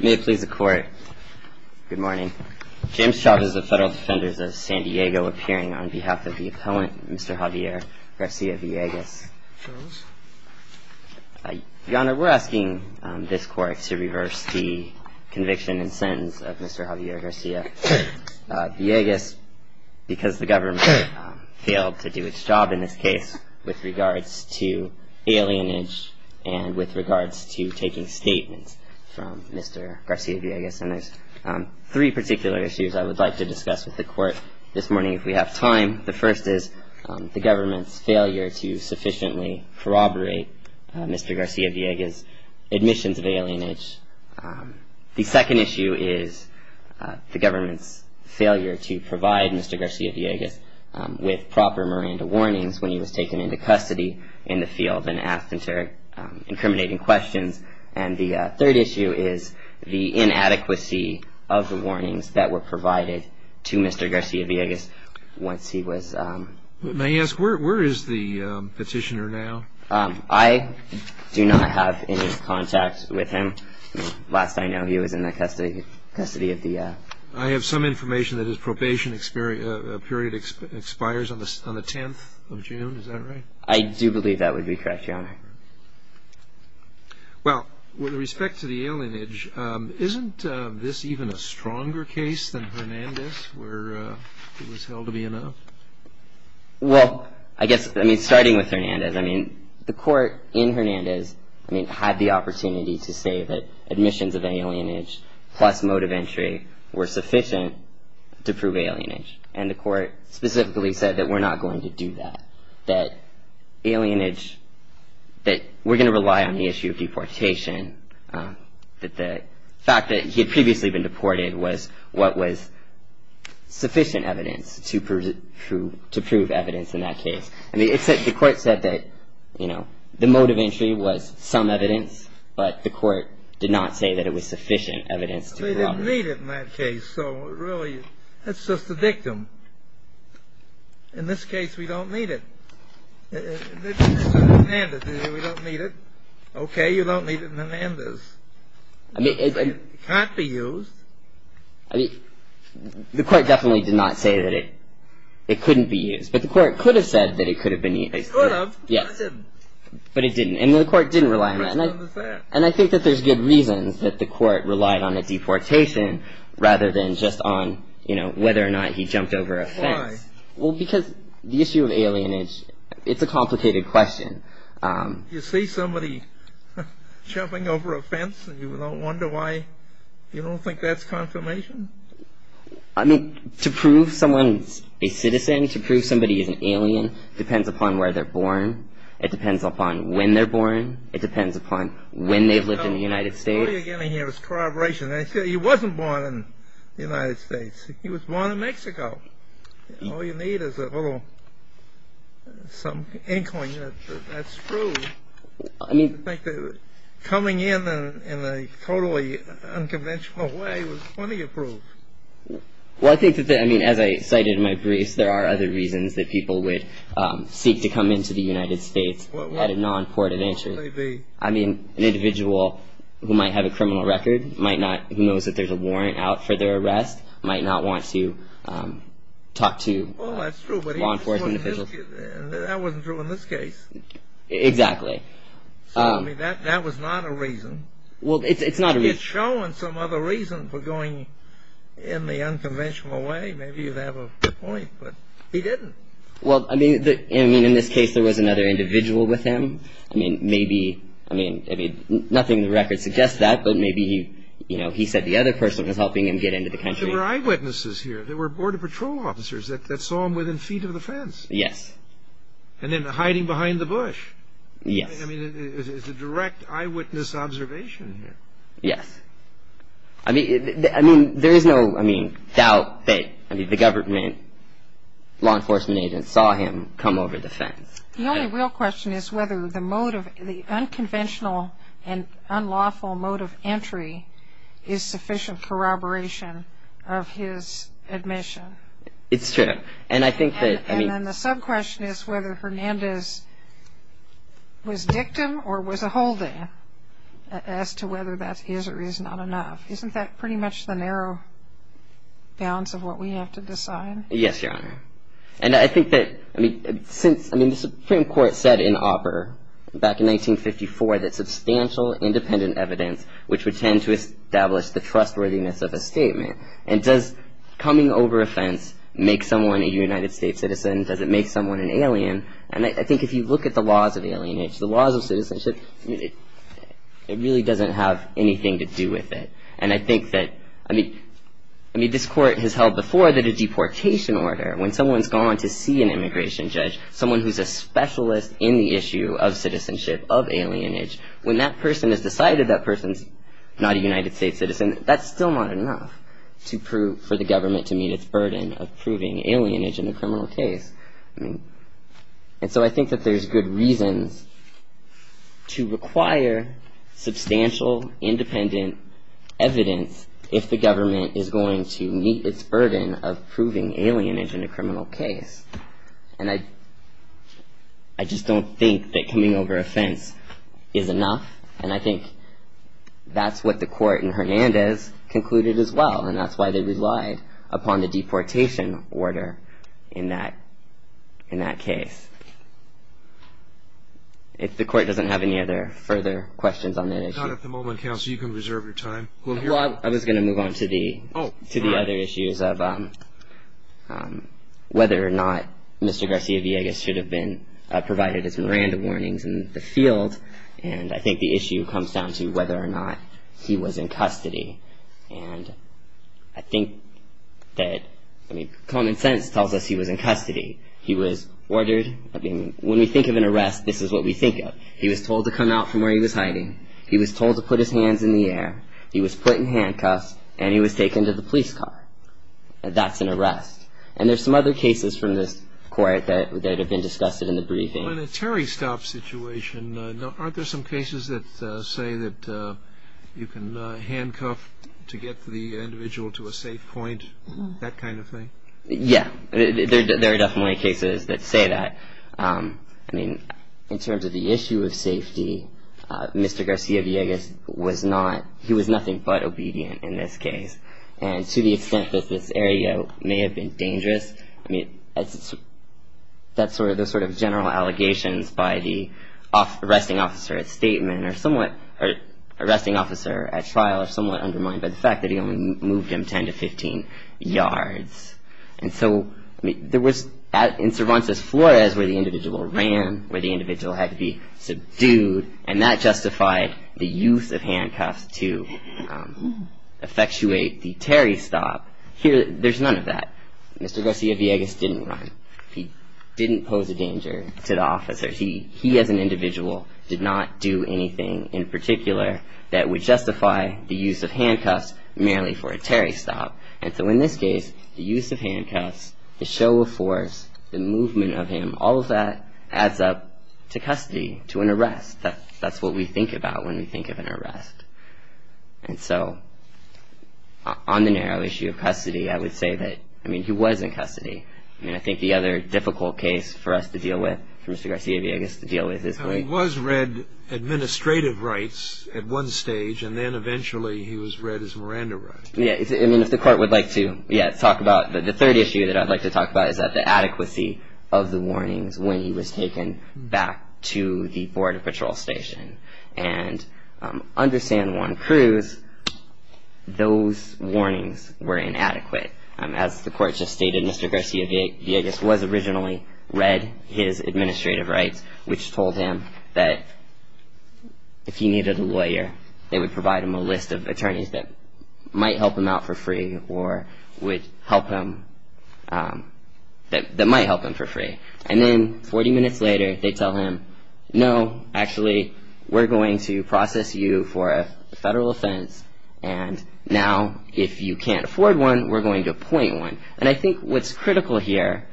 May it please the Court, good morning. James Chavez of Federal Defenders of San Diego appearing on behalf of the opponent, Mr. Javier Garcia-Villegas. Your Honor, we're asking this Court to reverse the conviction and sentence of Mr. Javier Garcia-Villegas because the government failed to do its job in this case with regards to alienage and with regards to taking statements from Mr. Garcia-Villegas. And there's three particular issues I would like to discuss with the Court this morning if we have time. The first is the government's failure to sufficiently corroborate Mr. Garcia-Villegas' admissions of alienage. The second issue is the government's failure to provide Mr. Garcia-Villegas with proper Miranda warnings when he was taken into custody in the field and asked incriminating questions. And the third issue is the inadequacy of the warnings that were provided to Mr. Garcia-Villegas once he was... May I ask where is the petitioner now? I do not have any contact with him. Last I know, he was in the custody of the... I have some information that his probation period expires on the 10th of June. Is that right? I do believe that would be correct, Your Honor. Well, with respect to the alienage, isn't this even a stronger case than Hernandez where it was held to be enough? Well, I guess, I mean, starting with Hernandez, I mean, the Court in Hernandez, I mean, had the opportunity to say that admissions of alienage plus mode of entry were sufficient to prove alienage. And the Court specifically said that we're not going to do that, that alienage... that we're going to rely on the issue of deportation, that the fact that he had previously been deported was what was sufficient evidence to prove evidence in that case. And the Court said that, you know, the mode of entry was some evidence, but the Court did not say that it was sufficient evidence to prove it. They didn't need it in that case, so really, that's just the victim. In this case, we don't need it. In Hernandez, we don't need it. Okay, you don't need it in Hernandez. It can't be used. I mean, the Court definitely did not say that it couldn't be used, but the Court could have said that it could have been used. It could have, but it didn't. But it didn't, and the Court didn't rely on that. And I think that there's good reasons that the Court relied on a deportation rather than just on, you know, whether or not he jumped over a fence. Why? Well, because the issue of alienage, it's a complicated question. You see somebody jumping over a fence, and you wonder why you don't think that's confirmation? I mean, to prove someone's a citizen, to prove somebody is an alien, depends upon where they're born. It depends upon when they're born. It depends upon when they've lived in the United States. What you're getting here is corroboration. He wasn't born in the United States. He was born in Mexico. All you need is a little inkling that that's true. I mean, coming in in a totally unconventional way was plenty of proof. Well, I think that, I mean, as I cited in my briefs, there are other reasons that people would seek to come into the United States at a non-court of interest. I mean, an individual who might have a criminal record, who knows that there's a warrant out for their arrest, might not want to talk to law enforcement officials. Well, that's true, but that wasn't true in this case. Exactly. So, I mean, that was not a reason. Well, it's not a reason. It's showing some other reason for going in the unconventional way. Maybe you have a point, but he didn't. Well, I mean, in this case there was another individual with him. I mean, nothing in the record suggests that, but maybe, you know, he said the other person was helping him get into the country. There were eyewitnesses here. There were border patrol officers that saw him within feet of the fence. Yes. And then hiding behind the bush. Yes. I mean, it's a direct eyewitness observation here. Yes. I mean, there is no, I mean, doubt that, I mean, the government, law enforcement agents saw him come over the fence. The only real question is whether the motive, the unconventional and unlawful motive entry is sufficient corroboration of his admission. It's true. And I think that, I mean. And then the sub-question is whether Hernandez was dictum or was a holding as to whether that is or is not enough. Isn't that pretty much the narrow balance of what we have to decide? Yes, Your Honor. And I think that, I mean, since, I mean, the Supreme Court said in opera back in 1954 that substantial independent evidence, which would tend to establish the trustworthiness of a statement. And does coming over a fence make someone a United States citizen? Does it make someone an alien? And I think if you look at the laws of alienation, the laws of citizenship, it really doesn't have anything to do with it. And I think that, I mean, I mean, this court has held before that a deportation order, when someone's gone to see an immigration judge, someone who's a specialist in the issue of citizenship, of alienage, when that person has decided that person's not a United States citizen, that's still not enough to prove for the government to meet its burden of proving alienage in a criminal case. And so I think that there's good reasons to require substantial independent evidence if the government is going to meet its burden of proving alienage in a criminal case. And I just don't think that coming over a fence is enough. And I think that's what the court in Hernandez concluded as well, and that's why they relied upon the deportation order in that case. If the court doesn't have any other further questions on that issue. Not at the moment, counsel. You can reserve your time. Well, I was going to move on to the other issues of whether or not Mr. Garcia-Villegas should have been provided his Miranda warnings in the field. And I think the issue comes down to whether or not he was in custody. And I think that, I mean, common sense tells us he was in custody. He was ordered, I mean, when we think of an arrest, this is what we think of. He was told to come out from where he was hiding. He was told to put his hands in the air. He was put in handcuffs, and he was taken to the police car. That's an arrest. And there's some other cases from this court that have been discussed in the briefing. Well, in a Terry Stott situation, aren't there some cases that say that you can handcuff to get the individual to a safe point, that kind of thing? Yeah, there are definitely cases that say that. I mean, in terms of the issue of safety, Mr. Garcia-Villegas was not. He was nothing but obedient in this case. And to the extent that this area may have been dangerous, I mean, those sort of general allegations by the arresting officer at trial are somewhat undermined by the fact that he only moved him 10 to 15 yards. And so there was, in Cervantes Flores, where the individual ran, where the individual had to be subdued, and that justified the use of handcuffs to effectuate the Terry Stott. There's none of that. Mr. Garcia-Villegas didn't run. He didn't pose a danger to the officer. He, as an individual, did not do anything in particular that would justify the use of handcuffs merely for a Terry Stott. And so in this case, the use of handcuffs, the show of force, the movement of him, all of that adds up to custody, to an arrest. That's what we think about when we think of an arrest. And so on the narrow issue of custody, I would say that, I mean, he was in custody. I mean, I think the other difficult case for us to deal with, for Mr. Garcia-Villegas to deal with is when he was read administrative rights at one stage, and then eventually he was read as Miranda rights. Yeah, I mean, if the Court would like to, yeah, talk about the third issue that I'd like to talk about is that the adequacy of the warnings when he was taken back to the Border Patrol Station. And under San Juan Cruz, those warnings were inadequate. As the Court just stated, Mr. Garcia-Villegas was originally read his administrative rights, which told him that if he needed a lawyer, they would provide him a list of attorneys that might help him out for free or would help him, that might help him for free. And then 40 minutes later, they tell him, no, actually, we're going to process you for a federal offense, and now if you can't afford one, we're going to appoint one. And I think what's critical here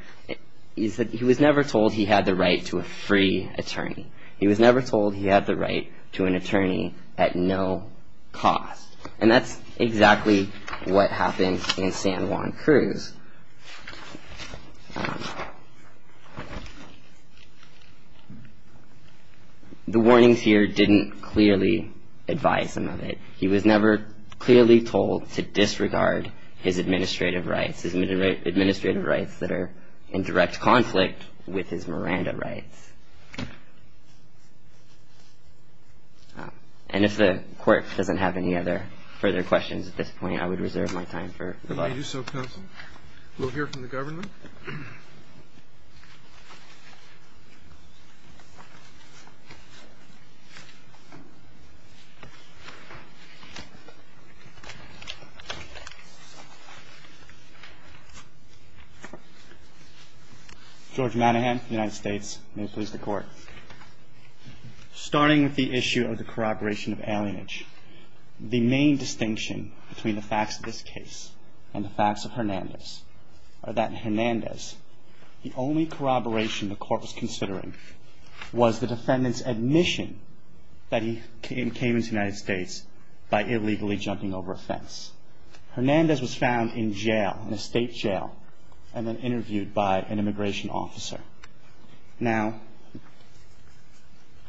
is that he was never told he had the right to a free attorney. He was never told he had the right to an attorney at no cost. And that's exactly what happened in San Juan Cruz. The warnings here didn't clearly advise him of it. He was never clearly told to disregard his administrative rights, his administrative rights that are in direct conflict with his Miranda rights. And if the Court doesn't have any other further questions at this point, I would reserve my time for rebuttal. If you do so, counsel, we'll hear from the government. George Manahan, United States. May it please the Court. Starting with the issue of the corroboration of alienage, the main distinction between the facts of this case and the facts of Hernandez are that in Hernandez, the only corroboration the Court was considering was the defendant's admission that he came into the United States by illegally jumping over a fence. Hernandez was found in jail, in a state jail, and then interviewed by an immigration officer. Now,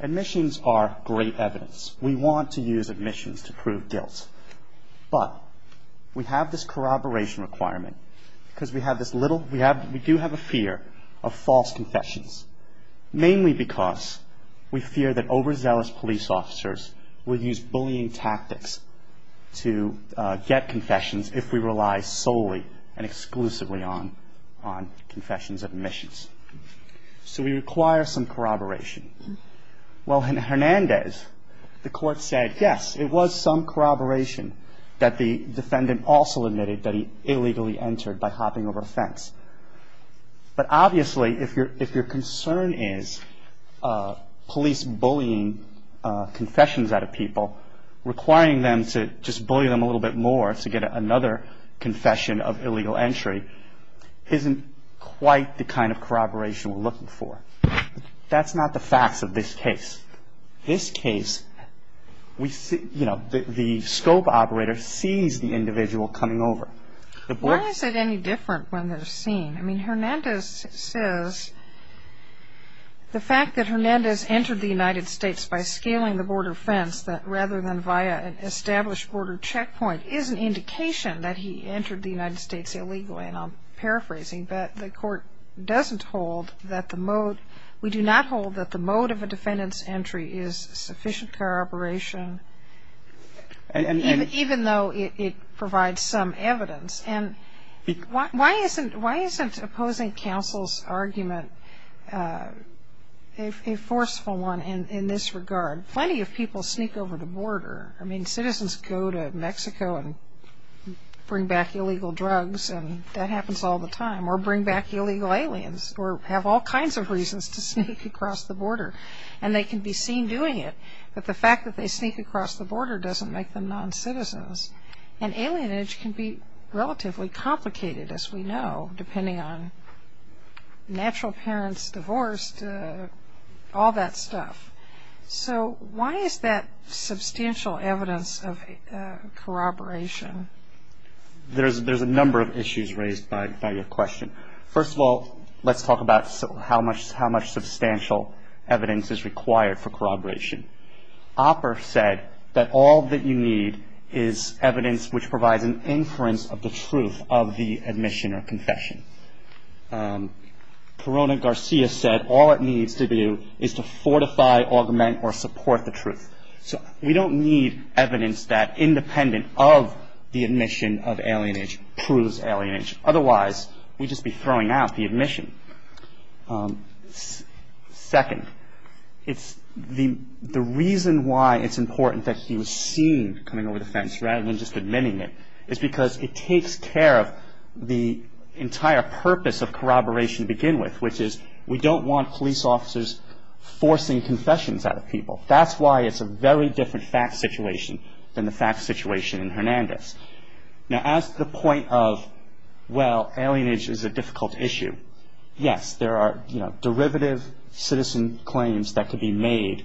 admissions are great evidence. We want to use admissions to prove guilt. But we have this corroboration requirement because we do have a fear of false confessions, mainly because we fear that overzealous police officers will use bullying tactics to get confessions if we rely solely and exclusively on confessions of admissions. So we require some corroboration. Well, in Hernandez, the Court said, yes, it was some corroboration that the defendant also admitted that he illegally entered by hopping over a fence. But obviously, if your concern is police bullying confessions out of people, requiring them to just bully them a little bit more to get another confession of illegal entry isn't quite the kind of corroboration we're looking for. That's not the facts of this case. This case, you know, the scope operator sees the individual coming over. Why is it any different when they're seen? I mean, Hernandez says the fact that Hernandez entered the United States by scaling the border fence rather than via an established border checkpoint is an indication that he entered the United States illegally. And I'm paraphrasing, but the Court doesn't hold that the mode, we do not hold that the mode of a defendant's entry is sufficient corroboration, even though it provides some evidence. And why isn't opposing counsel's argument a forceful one in this regard? Plenty of people sneak over the border. I mean, citizens go to Mexico and bring back illegal drugs and that happens all the time or bring back illegal aliens or have all kinds of reasons to sneak across the border, and they can be seen doing it. But the fact that they sneak across the border doesn't make them non-citizens. And alienage can be relatively complicated, as we know, depending on natural parents divorced, all that stuff. So why is that substantial evidence of corroboration? There's a number of issues raised by your question. First of all, let's talk about how much substantial evidence is required for corroboration. Opper said that all that you need is evidence which provides an inference of the truth of the admission or confession. Corona-Garcia said all it needs to do is to fortify, augment, or support the truth. So we don't need evidence that, independent of the admission of alienage, proves alienage. Otherwise, we'd just be throwing out the admission. Second, the reason why it's important that he was seen coming over the fence rather than just admitting it is because it takes care of the entire purpose of corroboration to begin with, which is we don't want police officers forcing confessions out of people. That's why it's a very different fact situation than the fact situation in Hernandez. Now, as to the point of, well, alienage is a difficult issue, yes, there are derivative citizen claims that could be made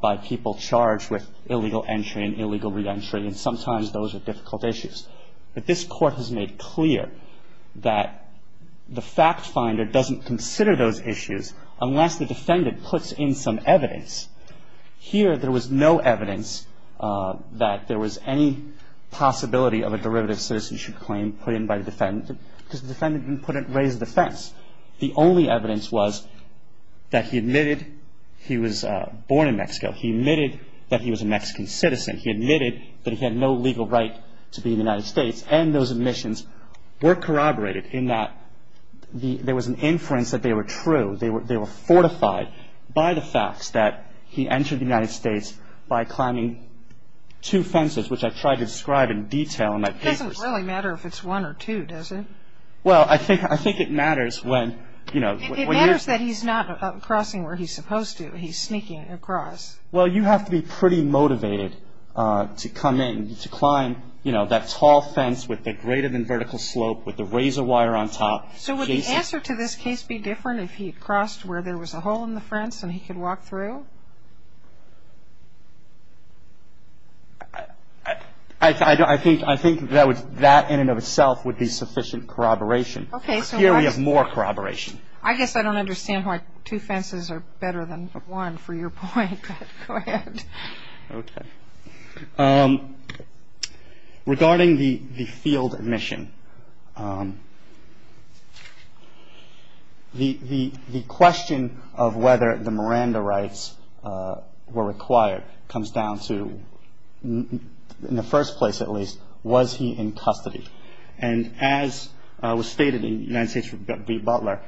by people charged with illegal entry and illegal reentry, and sometimes those are difficult issues. But this Court has made clear that the fact finder doesn't consider those issues unless the defendant puts in some evidence. Here, there was no evidence that there was any possibility of a derivative citizen claim put in by the defendant because the defendant didn't raise the fence. The only evidence was that he admitted he was born in Mexico, he admitted that he was a Mexican citizen, he admitted that he had no legal right to be in the United States, and those admissions were corroborated in that there was an inference that they were true, they were fortified by the facts that he entered the United States by climbing two fences, which I tried to describe in detail in my papers. It doesn't really matter if it's one or two, does it? Well, I think it matters when, you know. It matters that he's not crossing where he's supposed to, he's sneaking across. Well, you have to be pretty motivated to come in, to climb, you know, that tall fence with the greater than vertical slope with the razor wire on top. So would the answer to this case be different if he had crossed where there was a hole in the fence and he could walk through? I think that in and of itself would be sufficient corroboration. Okay. Here we have more corroboration. I guess I don't understand why two fences are better than one, for your point. Go ahead. Okay. Regarding the field admission, the question of whether the Miranda rights were required comes down to, in the first place at least, was he in custody? And as was stated in United States v. Butler,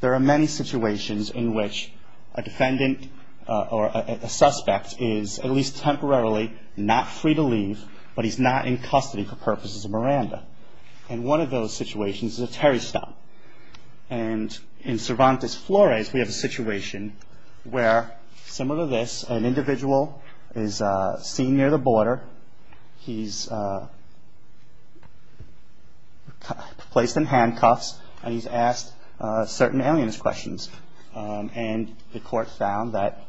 there are many situations in which a defendant or a suspect is, at least temporarily, not free to leave, but he's not in custody for purposes of Miranda. And one of those situations is a Terry stop. And in Cervantes Flores, we have a situation where, similar to this, an individual is seen near the border. He's placed in handcuffs and he's asked certain alien questions. And the court found that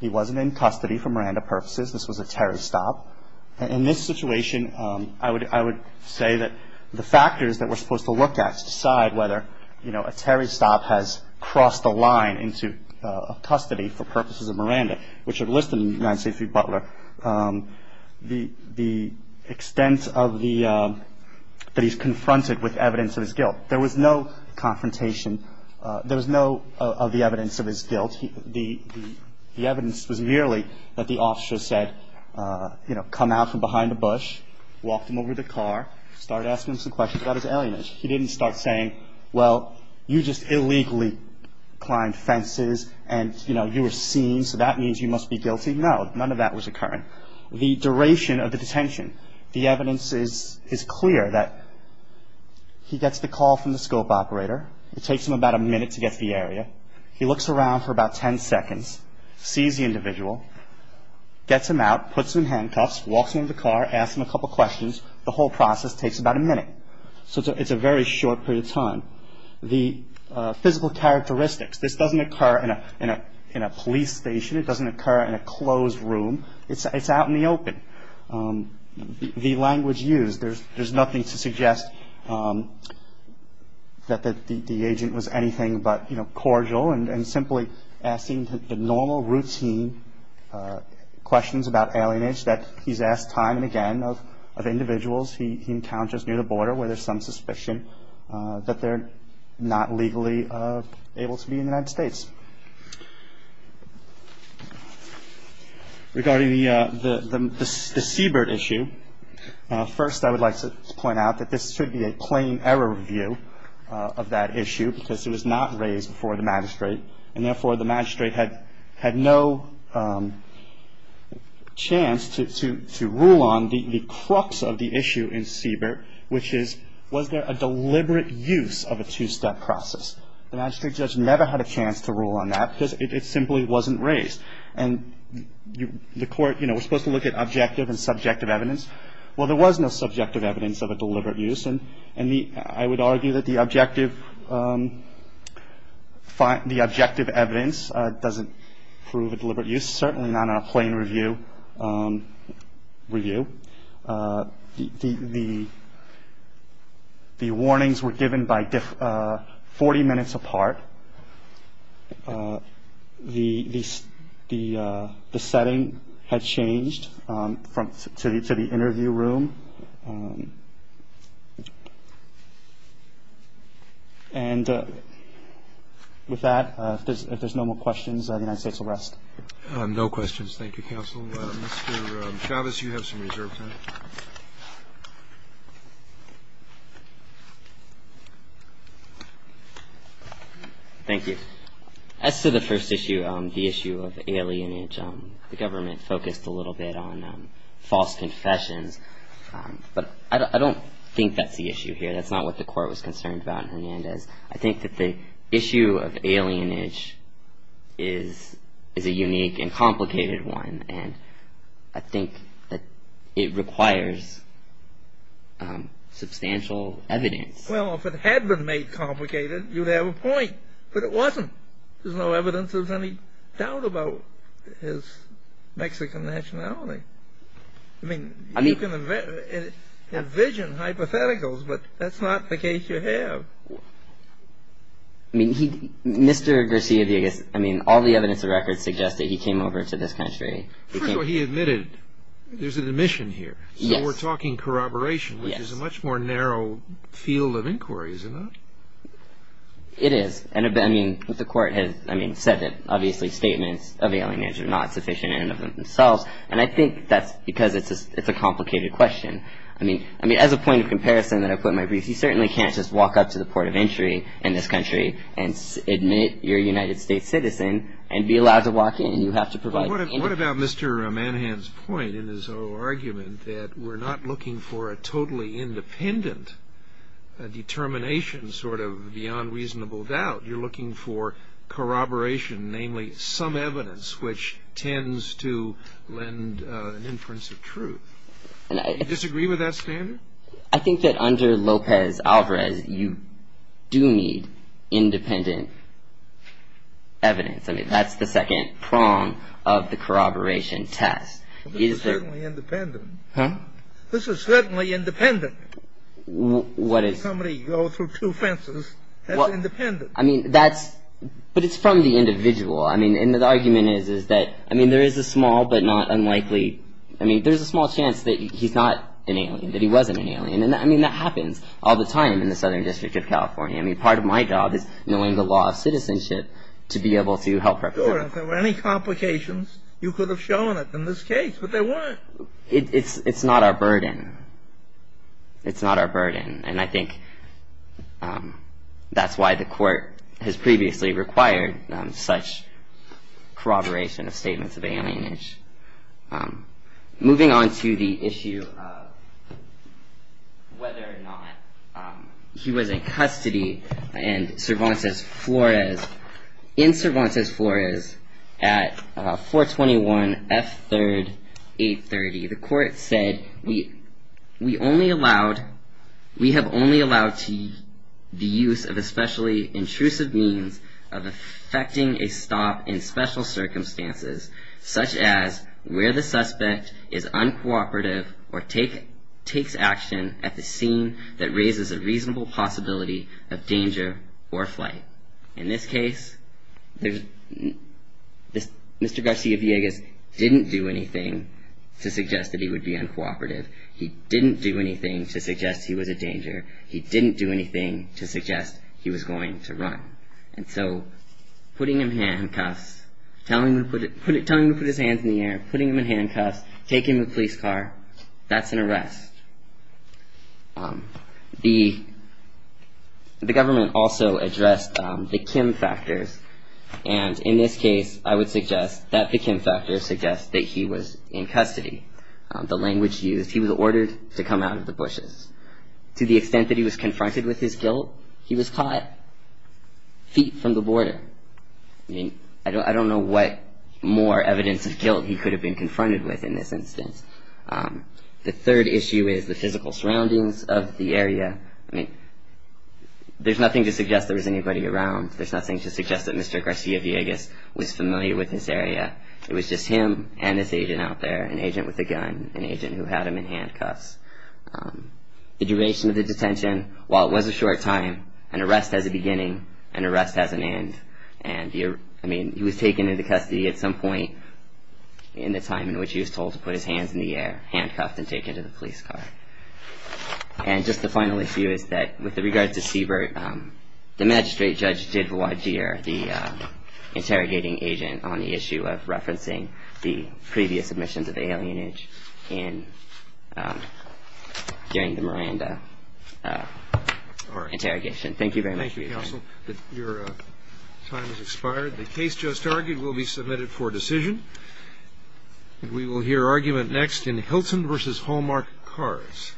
he wasn't in custody for Miranda purposes. This was a Terry stop. In this situation, I would say that the factors that we're supposed to look at to decide whether a Terry stop has crossed the line into custody for purposes of Miranda, which are listed in United States v. Butler, the extent that he's confronted with evidence of his guilt. There was no confrontation. There was no evidence of his guilt. The evidence was merely that the officer said, you know, come out from behind a bush, walked him over to the car, started asking him some questions about his alienation. He didn't start saying, well, you just illegally climbed fences and, you know, you were seen. So that means you must be guilty. No, none of that was occurring. The duration of the detention. The evidence is clear that he gets the call from the scope operator. It takes him about a minute to get to the area. He looks around for about 10 seconds, sees the individual, gets him out, puts him in handcuffs, walks him into the car, asks him a couple questions. The whole process takes about a minute. So it's a very short period of time. The physical characteristics. This doesn't occur in a police station. It doesn't occur in a closed room. It's out in the open. The language used. There's nothing to suggest that the agent was anything but, you know, cordial and simply asking the normal routine questions about alienation that he's asked time and again of individuals he encounters near the border where there's some suspicion that they're not legally able to be in the United States. Regarding the Seabird issue, first I would like to point out that this should be a plain error review of that issue because it was not raised before the magistrate, and therefore the magistrate had no chance to rule on the crux of the issue in Seabird, which is was there a deliberate use of a two-step process? The magistrate judge never had a chance to rule on that because it simply wasn't raised. And the court, you know, was supposed to look at objective and subjective evidence. Well, there was no subjective evidence of a deliberate use. I would argue that the objective evidence doesn't prove a deliberate use, certainly not in a plain review. The warnings were given by 40 minutes apart. The setting had changed to the interview room. And with that, if there's no more questions, the United States will rest. No questions. Thank you, counsel. Mr. Chavez, you have some reserve time. Thank you. As to the first issue, the issue of alienage, the government focused a little bit on false confessions. But I don't think that's the issue here. That's not what the court was concerned about in Hernandez. I think that the issue of alienage is a unique and complicated one, and I think that it requires substantial evidence. Well, if it had been made complicated, you'd have a point. But it wasn't. There's no evidence of any doubt about his Mexican nationality. I mean, you can envision hypotheticals, but that's not the case you have. I mean, Mr. Garcia Villegas, I mean, all the evidence and records suggest that he came over to this country. First of all, he admitted there's an admission here. So we're talking corroboration, which is a much more narrow field of inquiry, isn't it? It is. I mean, the court has said that, obviously, statements of alienage are not sufficient in and of themselves, and I think that's because it's a complicated question. I mean, as a point of comparison that I put in my brief, you certainly can't just walk up to the port of entry in this country and admit you're a United States citizen and be allowed to walk in. What about Mr. Manhan's point in his argument that we're not looking for a totally independent determination, sort of beyond reasonable doubt? You're looking for corroboration, namely some evidence which tends to lend an inference of truth. Do you disagree with that standard? I think that under Lopez-Alvarez, you do need independent evidence. I mean, that's the second prong of the corroboration test. But this is certainly independent. Huh? This is certainly independent. What is? When somebody goes through two fences, that's independent. I mean, that's – but it's from the individual. I mean, and the argument is that – I mean, there is a small but not unlikely – I mean, there's a small chance that he's not an alien, that he wasn't an alien, and I mean, that happens all the time in the Southern District of California. I mean, part of my job is knowing the law of citizenship to be able to help represent it. Sure, if there were any complications, you could have shown it in this case, but there weren't. It's not our burden. It's not our burden. And I think that's why the court has previously required such corroboration of statements of alienage. Moving on to the issue of whether or not he was in custody and Cervantes Flores – in Cervantes Flores at 421 F. 3rd, 830, the court said, We have only allowed the use of especially intrusive means of effecting a stop in special circumstances, such as where the suspect is uncooperative or takes action at the scene that raises a reasonable possibility of danger or flight. In this case, Mr. Garcia-Villegas didn't do anything to suggest that he would be uncooperative. He didn't do anything to suggest he was a danger. He didn't do anything to suggest he was going to run. And so, putting him in handcuffs, telling him to put his hands in the air, putting him in handcuffs, taking him to a police car, that's an arrest. The government also addressed the Kim factors. And in this case, I would suggest that the Kim factors suggest that he was in custody. The language used, he was ordered to come out of the bushes. To the extent that he was confronted with his guilt, he was caught feet from the border. I mean, I don't know what more evidence of guilt he could have been confronted with in this instance. The third issue is the physical surroundings of the area. I mean, there's nothing to suggest there was anybody around. There's nothing to suggest that Mr. Garcia-Villegas was familiar with this area. It was just him and this agent out there, an agent with a gun, an agent who had him in handcuffs. The duration of the detention, while it was a short time, an arrest has a beginning, an arrest has an end. I mean, he was taken into custody at some point in the time in which he was told to put his hands in the air, handcuffed and taken to the police car. And just the final issue is that with regard to Siebert, the magistrate judge did voir dire the interrogating agent on the issue of referencing the previous submissions of alienage during the Miranda interrogation. Thank you very much for your time. Counsel, your time has expired. The case just argued will be submitted for decision. We will hear argument next in Hilton v. Hallmark Cars.